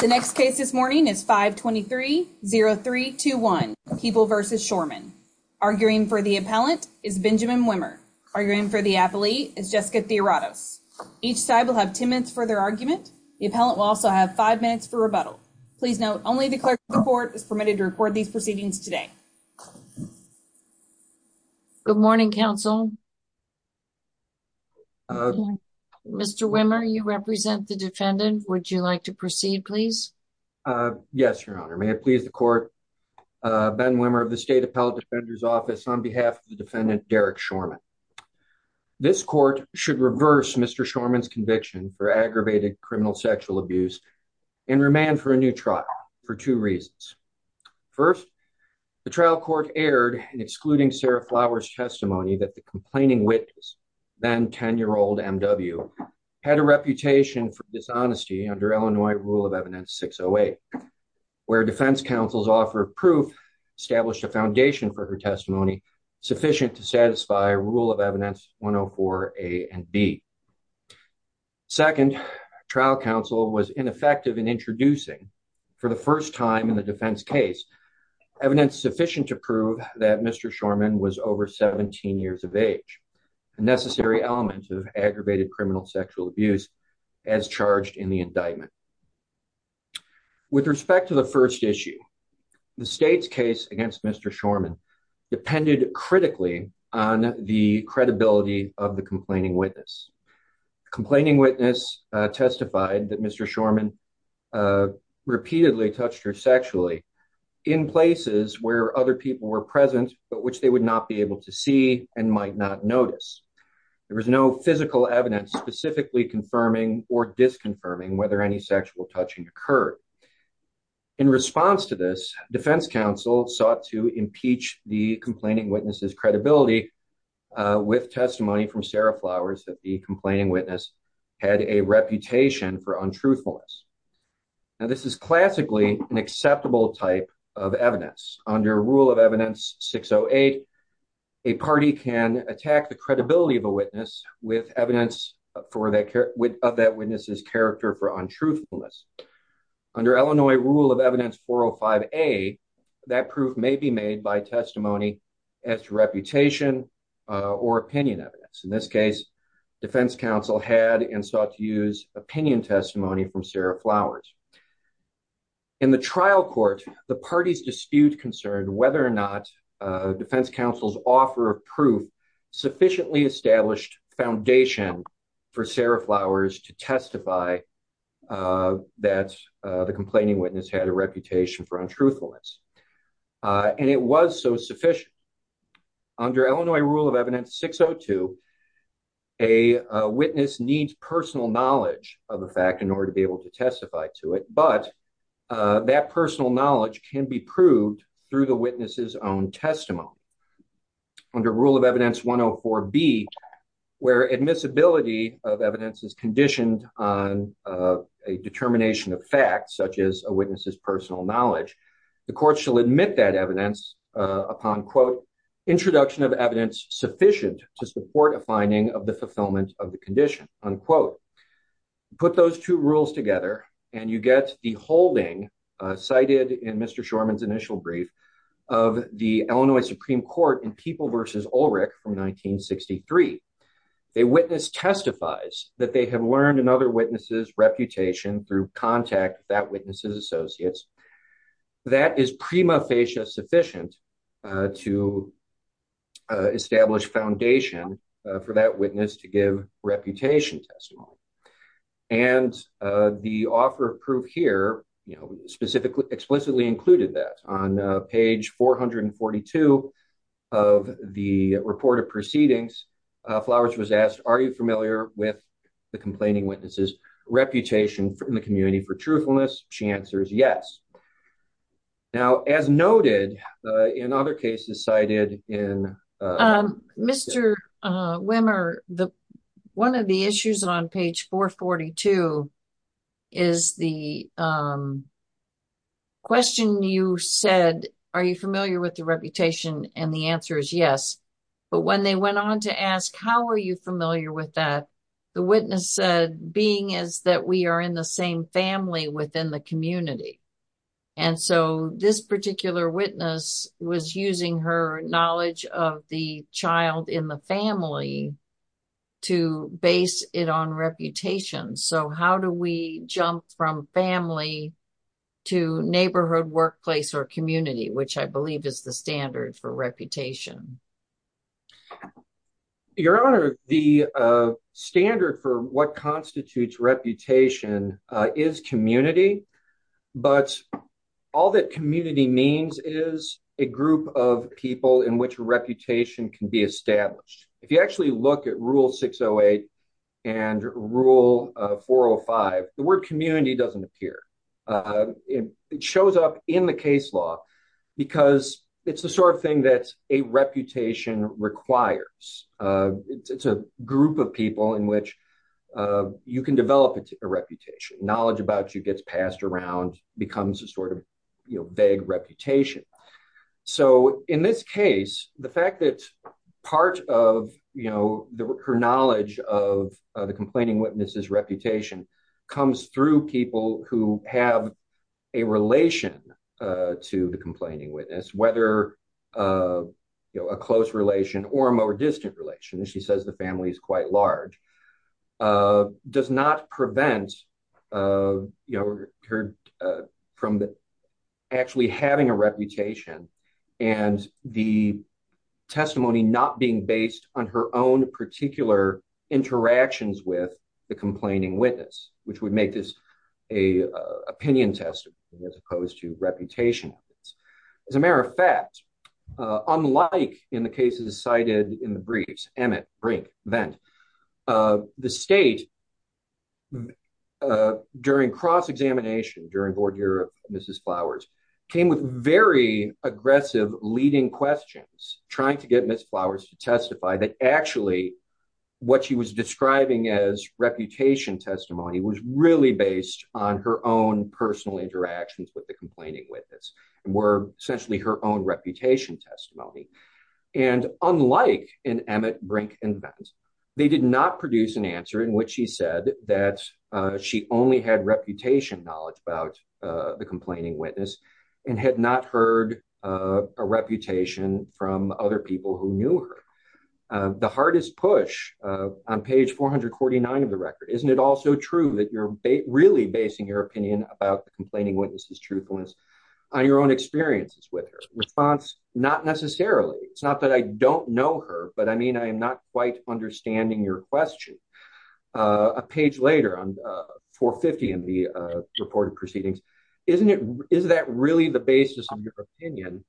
The next case this morning is 523-0321, People v. Schorman. Arguing for the appellant is Benjamin Wimmer. Arguing for the appellee is Jessica Theoratos. Each side will have 10 minutes for their argument. The appellant will also have 5 minutes for rebuttal. Please note, only the clerk of the court is permitted to record these proceedings today. Good morning, counsel. Mr. Wimmer, you represent the defendant. Would you like to proceed, please? Yes, Your Honor. May it please the court. Ben Wimmer of the State Appellate Defender's Office on behalf of the defendant, Derek Schorman. This court should reverse Mr. Schorman's conviction for aggravated criminal sexual abuse and remand for a new trial for two reasons. First, the trial court erred in excluding Sarah Flowers' testimony that the complaining witness, then 10-year-old M.W., had a reputation for dishonesty under Illinois Rule of Evidence 608, where defense counsel's offer of proof established a foundation for her testimony sufficient to satisfy Rule of Evidence 104A and B. Second, trial counsel was ineffective in introducing, for the first time in the defense case, evidence sufficient to prove that Mr. Schorman was over 17 years of age, a necessary element of aggravated criminal sexual abuse as charged in the indictment. With respect to the first issue, the State's case against Mr. Schorman depended critically on the credibility of the complaining witness. The complaining witness testified that Mr. Schorman repeatedly touched her sexually in places where other people were present, but which they would not be able to see and might not notice. There was no physical evidence specifically confirming or disconfirming whether any sexual touching occurred. In response to this, defense counsel sought to impeach the complaining witness's credibility with testimony from Sarah Flowers that the complaining witness had a reputation for untruthfulness. This is classically an acceptable type of evidence. Under Rule of Evidence 608, a party can attack the credibility of a witness with evidence of that witness's character for untruthfulness. Under Illinois Rule of Evidence 405A, that proof may be made by testimony as to reputation or opinion evidence. In this case, defense counsel had and sought to use opinion testimony from Sarah Flowers. In the trial court, the party's dispute concerned whether or not defense counsel's offer of proof sufficiently established foundation for Sarah Flowers to have a reputation for untruthfulness. And it was so sufficient. Under Illinois Rule of Evidence 602, a witness needs personal knowledge of a fact in order to be able to testify to it, but that personal knowledge can be proved through the witness's own testimony. Under Rule of Evidence 104B, where admissibility of evidence is conditioned on a determination of a witness's personal knowledge, the court shall admit that evidence upon, quote, introduction of evidence sufficient to support a finding of the fulfillment of the condition, unquote. Put those two rules together, and you get the holding cited in Mr. Shorman's initial brief of the Illinois Supreme Court in People v. Ulrich from 1963. A witness testifies that they have learned another witness's reputation through contact with that witness's associates. That is prima facie sufficient to establish foundation for that witness to give reputation testimony. And the offer of proof here, you know, specifically, explicitly included that. On page 442 of the report of proceedings, Flowers was asked, are you familiar with the complaining witness's reputation in the community for truthfulness? She answers yes. Now, as noted in other cases cited in Mr. Wimmer, one of the issues on page 442 is the question you said, are you familiar with reputation? And the answer is yes. But when they went on to ask, how are you familiar with that? The witness said, being as that we are in the same family within the community. And so, this particular witness was using her knowledge of the child in the family to base it on reputation. So, how do we jump from family to neighborhood, workplace, or community, which I believe is the standard for reputation? Your Honor, the standard for what constitutes reputation is community. But all that community means is a group of people in which reputation can be established. If you actually look at Rule 608 and Rule 405, the word community doesn't appear. It shows up in the case law because it's the sort of thing that a reputation requires. It's a group of people in which you can develop a reputation. Knowledge about you gets passed around, becomes a sort of vague reputation. So, in this case, the fact that part of her knowledge of the complaining witness's reputation comes through people who have a relation to the complaining witness, whether a close relation or a more distant relation, she says the family is quite large, does not prevent her from actually having a reputation and the testimony not being based on her own particular interactions with the complaining witness, which would make this an opinion testimony as opposed to reputation. As a matter of fact, unlike in the cases cited in the briefs, Emmett, Brink, Vendt, the State during cross-examination during Board Year of Mrs. Flowers, came with very aggressive leading questions trying to get Ms. Flowers to testify that actually what she was describing as reputation testimony was really based on her own personal interactions with the complaining witness and were essentially her own reputation testimony. And unlike in Emmett, Brink, and Vendt, they did not produce an answer in which she said that she only had reputation knowledge about the complaining witness and had not heard a reputation from other people who knew her. The hardest push on page 449 of the record, isn't it also true that you're really basing your opinion about the complaining witness's truthfulness on your own experiences with her? Response, not necessarily. It's not that I don't know her, but I mean, I am not quite understanding your question. A page later on 450 in the reported proceedings, isn't it, is that really the basis of your opinion?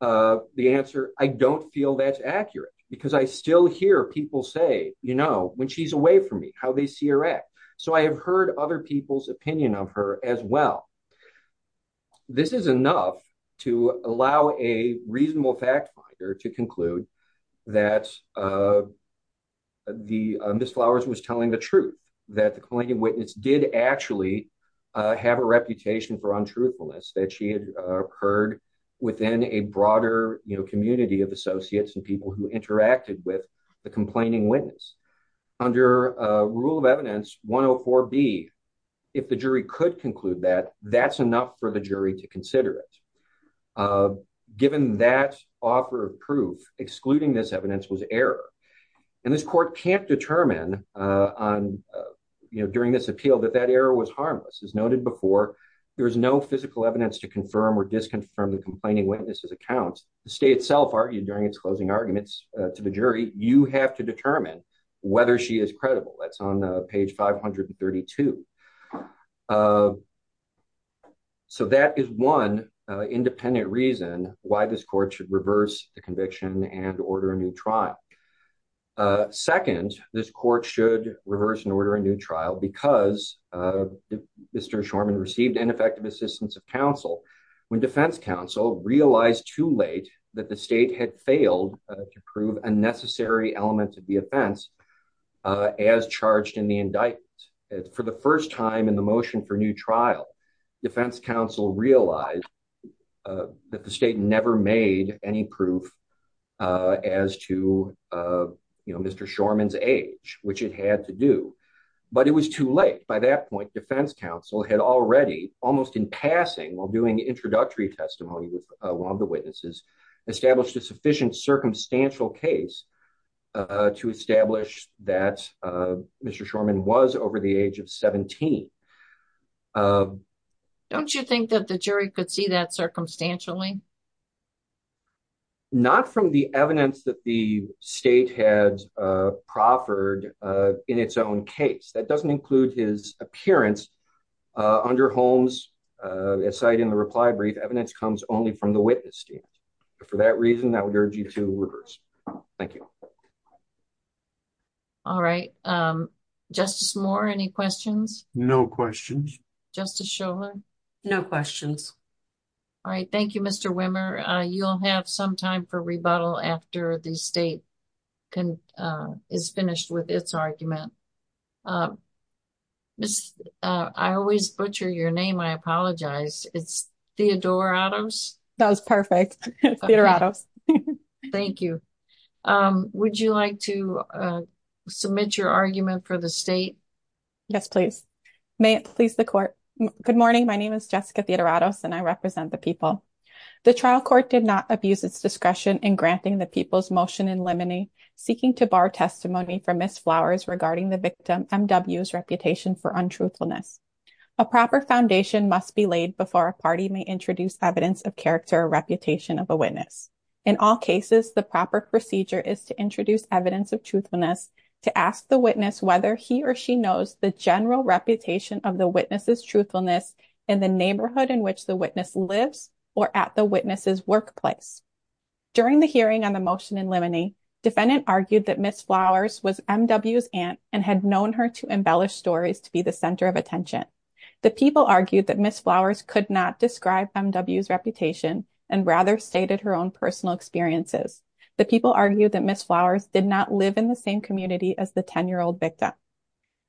The answer, I don't feel that's accurate because I still hear people say, you know, when she's away from me, how they see her act. So I have heard other people's opinion of her as well. This is enough to allow a reasonable fact finder to conclude that the Ms. Flowers was telling the truth, that the complaining witness did actually have a reputation for untruthfulness that she had heard within a broader, you know, community of associates and people who interacted with the complaining witness. Under Rule of Evidence 104B, if the jury could conclude that, that's enough for the jury to consider it. Given that offer of proof, excluding this evidence was error. And this court can't determine on, you know, during this appeal that that error was harmless. As noted before, there is no physical evidence to confirm or disconfirm the complaining witness's accounts. The state itself argued during its closing arguments to the jury, you have to determine whether she is credible. That's on page 532. So that is one independent reason why this court should reverse the conviction and order a new trial. Second, this court should reverse and order a new trial because Mr. Shorman received ineffective assistance of counsel when defense counsel realized too late that the state had failed to prove a necessary element of the offense, as charged in the indictment. For the first time in the motion for new trial, defense counsel realized that the state never made any proof as to, you know, Mr. Shorman's age, which it had to do. But it was too late. By that point, defense counsel had already, almost in passing, while doing introductory testimony with one of the witnesses, established a sufficient circumstantial case to establish that Mr. Shorman was over the age of 17. Don't you think that the jury could see that circumstantially? Not from the evidence that the state had proffered in its own case. That doesn't include his state. For that reason, I would urge you to reverse. Thank you. All right. Justice Moore, any questions? No questions. Justice Shomer? No questions. All right. Thank you, Mr. Wimmer. You'll have some time for rebuttal after the state is finished with its argument. I always butcher your name. I apologize. It's Theodore Adams? That was perfect. Thank you. Would you like to submit your argument for the state? Yes, please. May it please the court. Good morning. My name is Jessica Theodorados, and I represent the people. The trial court did not abuse its discretion in granting the people's motion in limine, seeking to bar testimony from Ms. Flowers regarding the victim, M.W.'s, reputation for untruthfulness. A proper foundation must be laid before a party may introduce evidence of character or reputation of a witness. In all cases, the proper procedure is to introduce evidence of truthfulness to ask the witness whether he or she knows the general reputation of the witness's truthfulness in the neighborhood in which the witness lives or at the witness's workplace. During the hearing on the motion in limine, defendant argued that Ms. Flowers was M.W.'s aunt and had known her to embellish stories to be the center of attention. The people argued that Ms. Flowers could not describe M.W.'s reputation and rather stated her own personal experiences. The people argued that Ms. Flowers did not live in the same community as the 10-year-old victim.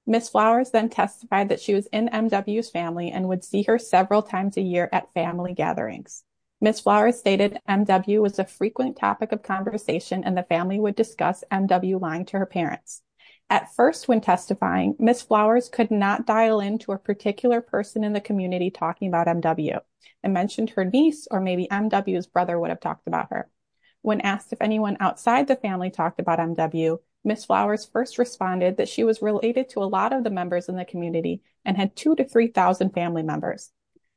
Ms. Flowers then testified that she was in M.W.'s family and would see her several times a year at family gatherings. Ms. Flowers stated M.W. was a frequent topic of conversation and the family would discuss M.W. lying to her parents. At first, when testifying, Ms. Flowers could not in the community talking about M.W. and mentioned her niece or maybe M.W.'s brother would have talked about her. When asked if anyone outside the family talked about M.W., Ms. Flowers first responded that she was related to a lot of the members in the community and had 2,000 to 3,000 family members.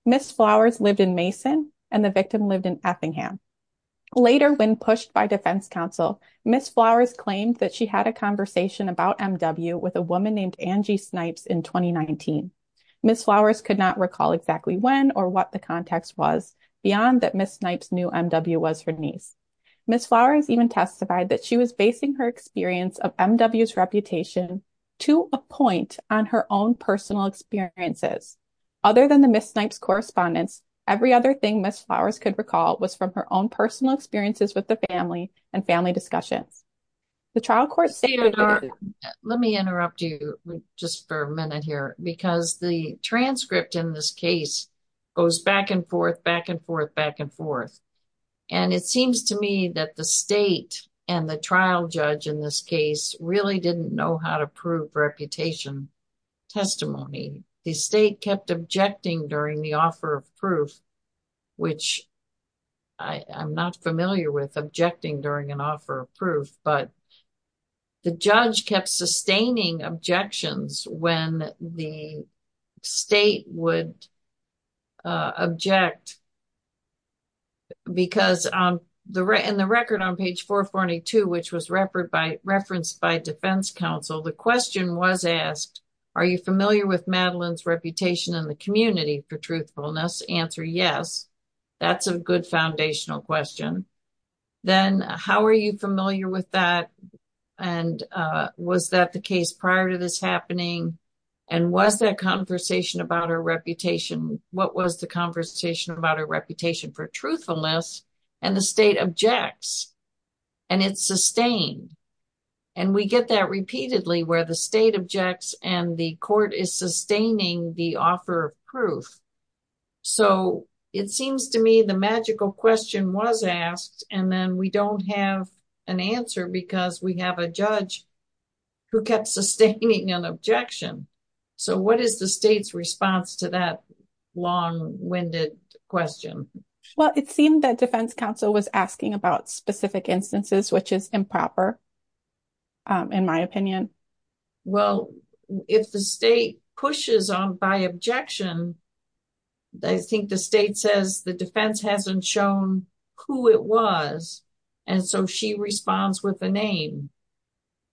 Ms. Flowers lived in Mason and the victim lived in Effingham. Later, when pushed by defense counsel, Ms. Flowers claimed that she had a conversation about M.W. with a woman named Angie Snipes in 2019. Ms. Flowers could not recall exactly when or what the context was beyond that Ms. Snipes knew M.W. was her niece. Ms. Flowers even testified that she was basing her experience of M.W.'s reputation to a point on her own personal experiences. Other than the Ms. Snipes' correspondence, every other thing Ms. Flowers could recall was from her own personal experiences with the family and family discussions. The trial court stated... Let me interrupt you just for a minute here because the transcript in this case goes back and forth, back and forth, back and forth. It seems to me that the state and the trial judge in this case really didn't know how to prove reputation testimony. The state kept objecting during the offer of proof, which I'm not familiar with objecting during an offer of proof, but the judge kept sustaining objections when the state would object. Because in the record on page 442, which was referenced by defense counsel, the question was asked, are you familiar with Madeline's reputation in the community for truthfulness? Answer, yes. That's a good foundational question. Then, how are you familiar with that? And was that the case prior to this happening? And was that conversation about her reputation, what was the conversation about her reputation for truthfulness? And the state objects and it's sustained. And we get that repeatedly where the state objects and the court is sustaining the so it seems to me the magical question was asked and then we don't have an answer because we have a judge who kept sustaining an objection. So, what is the state's response to that long-winded question? Well, it seemed that defense counsel was asking about specific instances, which is improper in my opinion. Well, if the state pushes on by objection, I think the state says the defense hasn't shown who it was and so she responds with the name.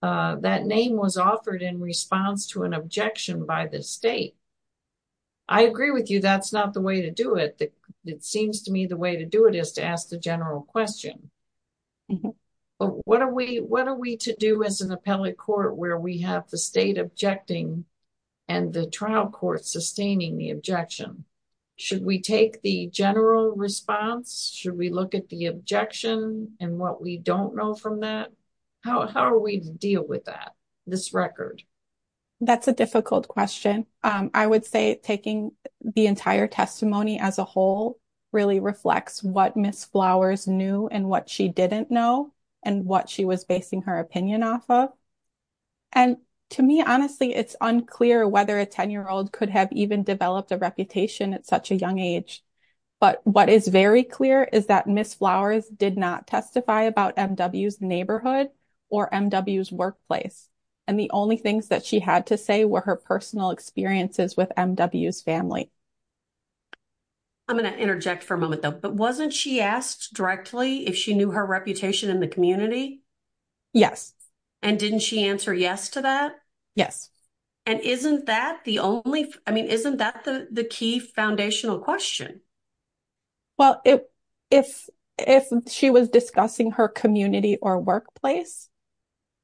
That name was offered in response to an objection by the state. I agree with you that's not the way to do it. It seems to me the way to do it is to ask the general question. What are we to do as an appellate court where we have the state objecting and the trial court sustaining the objection? Should we take the general response? Should we look at the objection and what we don't know from that? How are we to deal with that, this record? That's a difficult question. I would say taking the entire testimony as a whole really reflects what Ms. Flowers knew and what she didn't know and what she was basing her opinion off of. And to me, honestly, it's unclear whether a 10-year-old could have even developed a reputation at such a young age. But what is very clear is that Ms. Flowers did not testify about M.W.'s neighborhood or M.W.'s workplace. And the only things that she had to say were her personal experiences with M.W.'s family. I'm going to interject for a moment though. But wasn't she asked directly if she knew her reputation in the community? Yes. And didn't she answer yes to that? Yes. And isn't that the only, I mean, isn't that the key foundational question? Well, if she was discussing her community or workplace,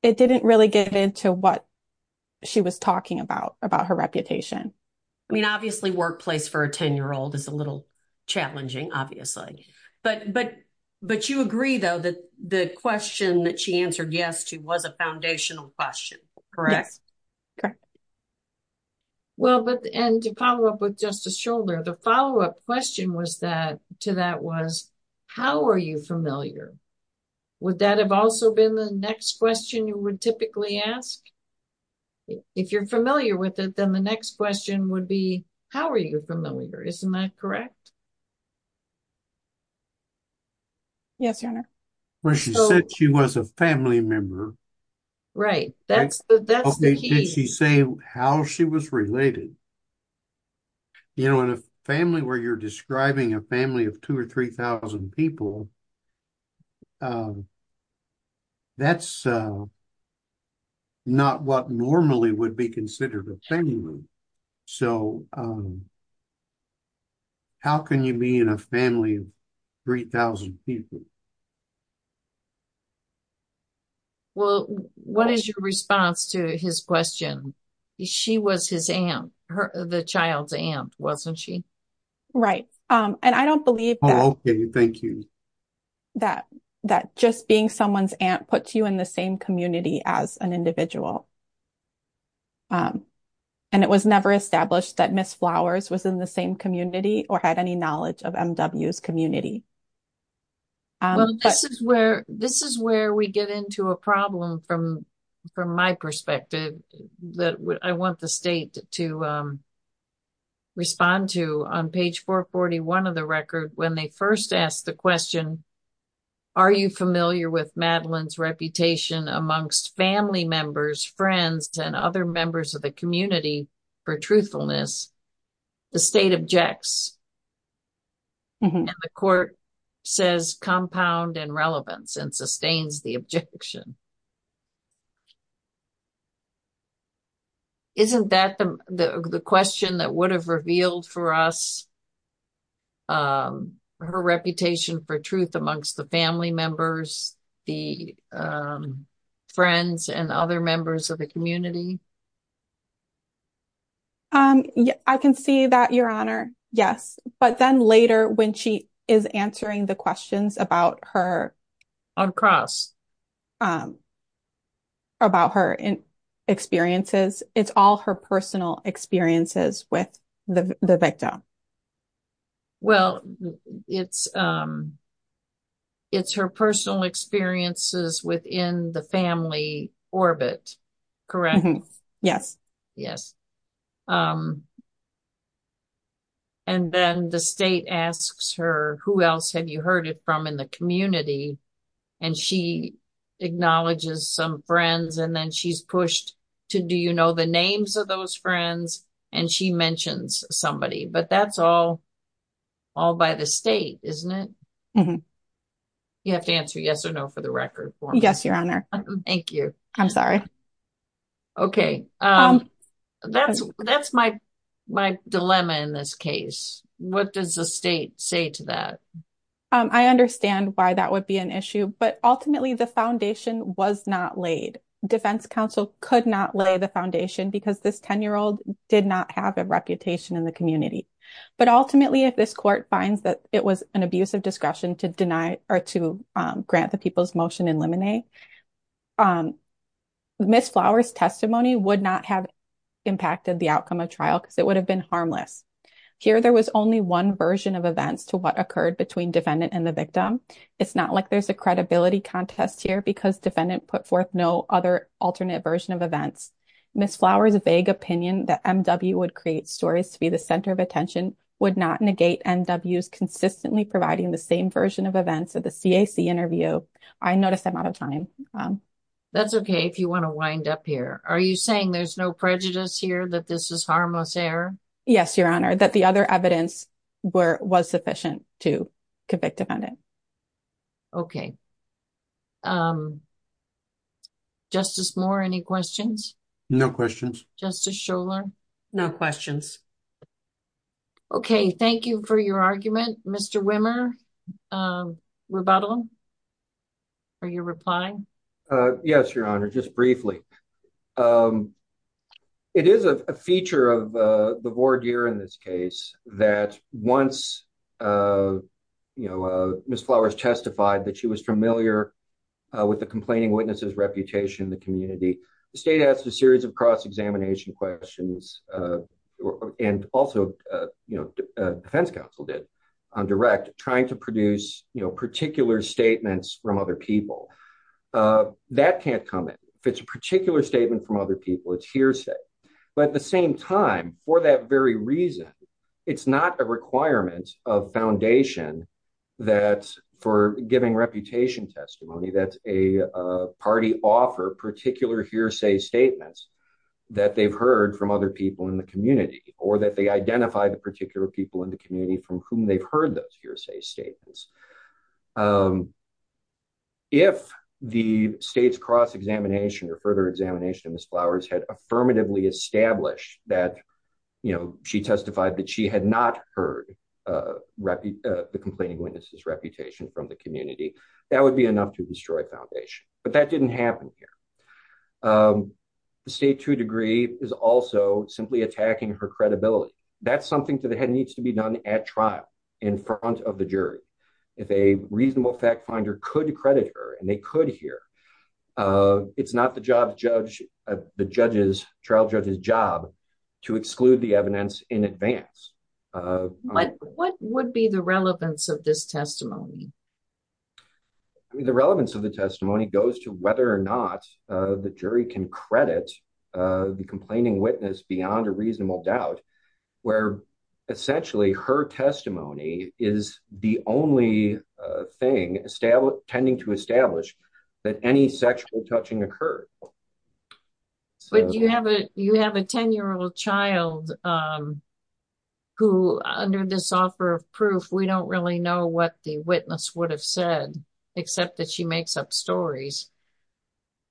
it didn't really get into what she was talking about, about her reputation. I mean, obviously, workplace for a 10-year-old is a little challenging, obviously. But you agree though that the question that she answered yes to was a foundational question, correct? Yes. Correct. Well, and to follow up with Justice Scholder, the follow-up question to that was, how are you familiar? Would that have also been the question you would typically ask? If you're familiar with it, then the next question would be, how are you familiar? Isn't that correct? Yes, Your Honor. Well, she said she was a family member. Right. That's the key. Did she say how she was related? You know, in a family where you're describing a family of 2,000 or 3,000 people, that's not what normally would be considered a family. So how can you be in a family of 3,000 people? Well, what is your response to his question? She was his aunt, the child's aunt, wasn't she? Right. And I don't believe that just being someone's aunt puts you in the same community as an individual. And it was never established that Ms. Flowers was in the same community or had any knowledge of MW's community. Well, this is where we get into a problem from my perspective that I want the state to respond to. On page 441 of the record, when they first asked the question, are you familiar with Madeline's reputation amongst family members, friends, and other members of the community for truthfulness, the state objects. And the court says compound and relevance and sustains the objection. Isn't that the question that would have revealed for us her reputation for truth amongst the family members, the friends, and other members of the community? Yes. But then later when she is answering the questions about her experiences, it's all her personal experiences with the victim. Well, it's her personal experiences within the family orbit, correct? Yes. Yes. And then the state asks her, who else have you heard it from in the community? And she acknowledges some friends and then she's pushed to, do you know the names of those friends? And she mentions somebody, but that's all by the state, isn't it? You have to answer yes or no for the record for me. Yes, Your Honor. Thank you. I'm sorry. Okay. That's my dilemma in this case. What does the state say to that? I understand why that would be an issue, but ultimately the foundation was not laid. Defense counsel could not lay the foundation because this 10-year-old did not have a reputation in the community. But ultimately, if this court finds that it was an abuse of discretion to deny or to grant the people's motion in limine, Ms. Flower's testimony would not have impacted the outcome of trial because it would have been harmless. Here, there was only one version of events to what occurred between defendant and the victim. It's not like there's a credibility contest here because defendant put forth no other alternate version of events. Ms. Flower's vague opinion that MW would create stories to be the center of attention would not negate MW's consistently providing the same version of events of the CAC interview. I notice I'm out of time. That's okay if you want to wind up here. Are you saying there's no prejudice here that this is harmless error? Yes, Your Honor, that the other evidence was sufficient to convict defendant. Okay. Justice Moore, any questions? No questions. Justice Scholar? No questions. Okay. Thank you for your argument. Mr. Wimmer, rebuttal? Are you replying? Yes, Your Honor, just briefly. It is a feature of the voir dire in this case that once Ms. Flower's testified that she was familiar with the complaining witness's reputation in the community, the state asked a series of cross-examination questions, and also defense counsel did on direct trying to produce particular statements from other people. That can't come in. If it's a particular statement from other people, it's hearsay. At the same time, for that very reason, it's not a requirement of foundation for giving reputation testimony that a party offer particular hearsay statements that they've heard from other people in the community, or that they identify the particular people in the community from whom they've heard those hearsay statements. If the state's cross-examination or further examination of Ms. Flower's testimony justified that she had not heard the complaining witness's reputation from the community, that would be enough to destroy foundation. But that didn't happen here. The state to a degree is also simply attacking her credibility. That's something that needs to be done at trial in front of the jury. If a reasonable fact finder could credit her, and they could here, it's not the trial judge's job to exclude the evidence in advance. What would be the relevance of this testimony? The relevance of the testimony goes to whether or not the jury can credit the complaining witness beyond a reasonable doubt, where essentially her testimony is the only thing tending to establish that any sexual touching occurred. But you have a 10-year-old child who, under this offer of proof, we don't really know what the witness would have said, except that she makes up stories.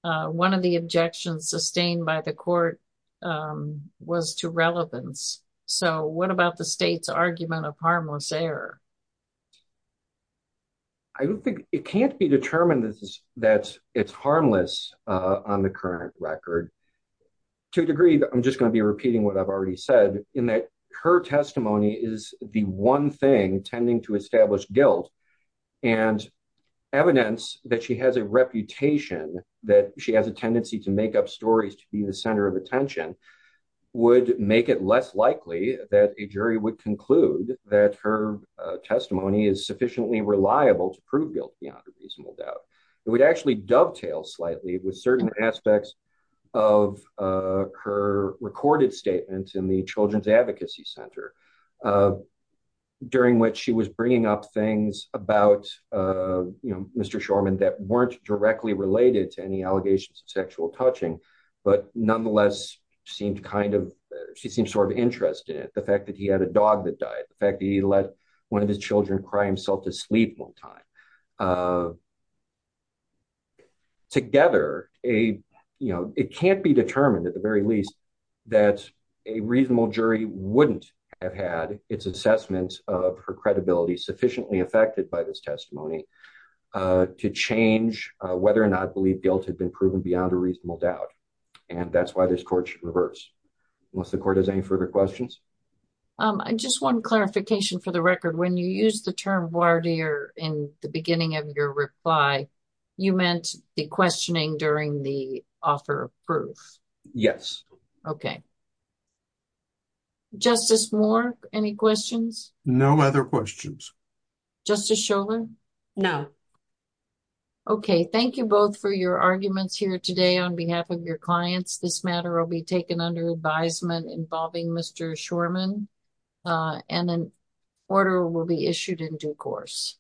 One of the objections sustained by the court was to relevance. So what about the state's argument of harmless error? I don't think it can't be determined that it's harmless on the current record. To a degree, I'm just going to be repeating what I've already said, in that her testimony is the one thing tending to establish guilt. And evidence that she has a reputation, that she has a tendency to make up stories to be the center of attention, would make it less likely that a jury would that her testimony is sufficiently reliable to prove guilt beyond a reasonable doubt. It would actually dovetail slightly with certain aspects of her recorded statement in the Children's Advocacy Center, during which she was bringing up things about Mr. Shorman that weren't directly related to any allegations of sexual touching, but nonetheless seemed kind of, she seemed sort of interested in the fact that he had a dog that died, the fact that he let one of his children cry himself to sleep one time. Together, it can't be determined, at the very least, that a reasonable jury wouldn't have had its assessment of her credibility sufficiently affected by this testimony to change whether or not the court has any further questions. I just want clarification for the record. When you use the term voir dire in the beginning of your reply, you meant the questioning during the offer of proof? Yes. Okay. Justice Moore, any questions? No other questions. Justice Sholer? No. Okay, thank you both for your arguments here today on behalf of your clients. This matter will be taken under advisement involving Mr. Shorman, and an order will be issued in due course.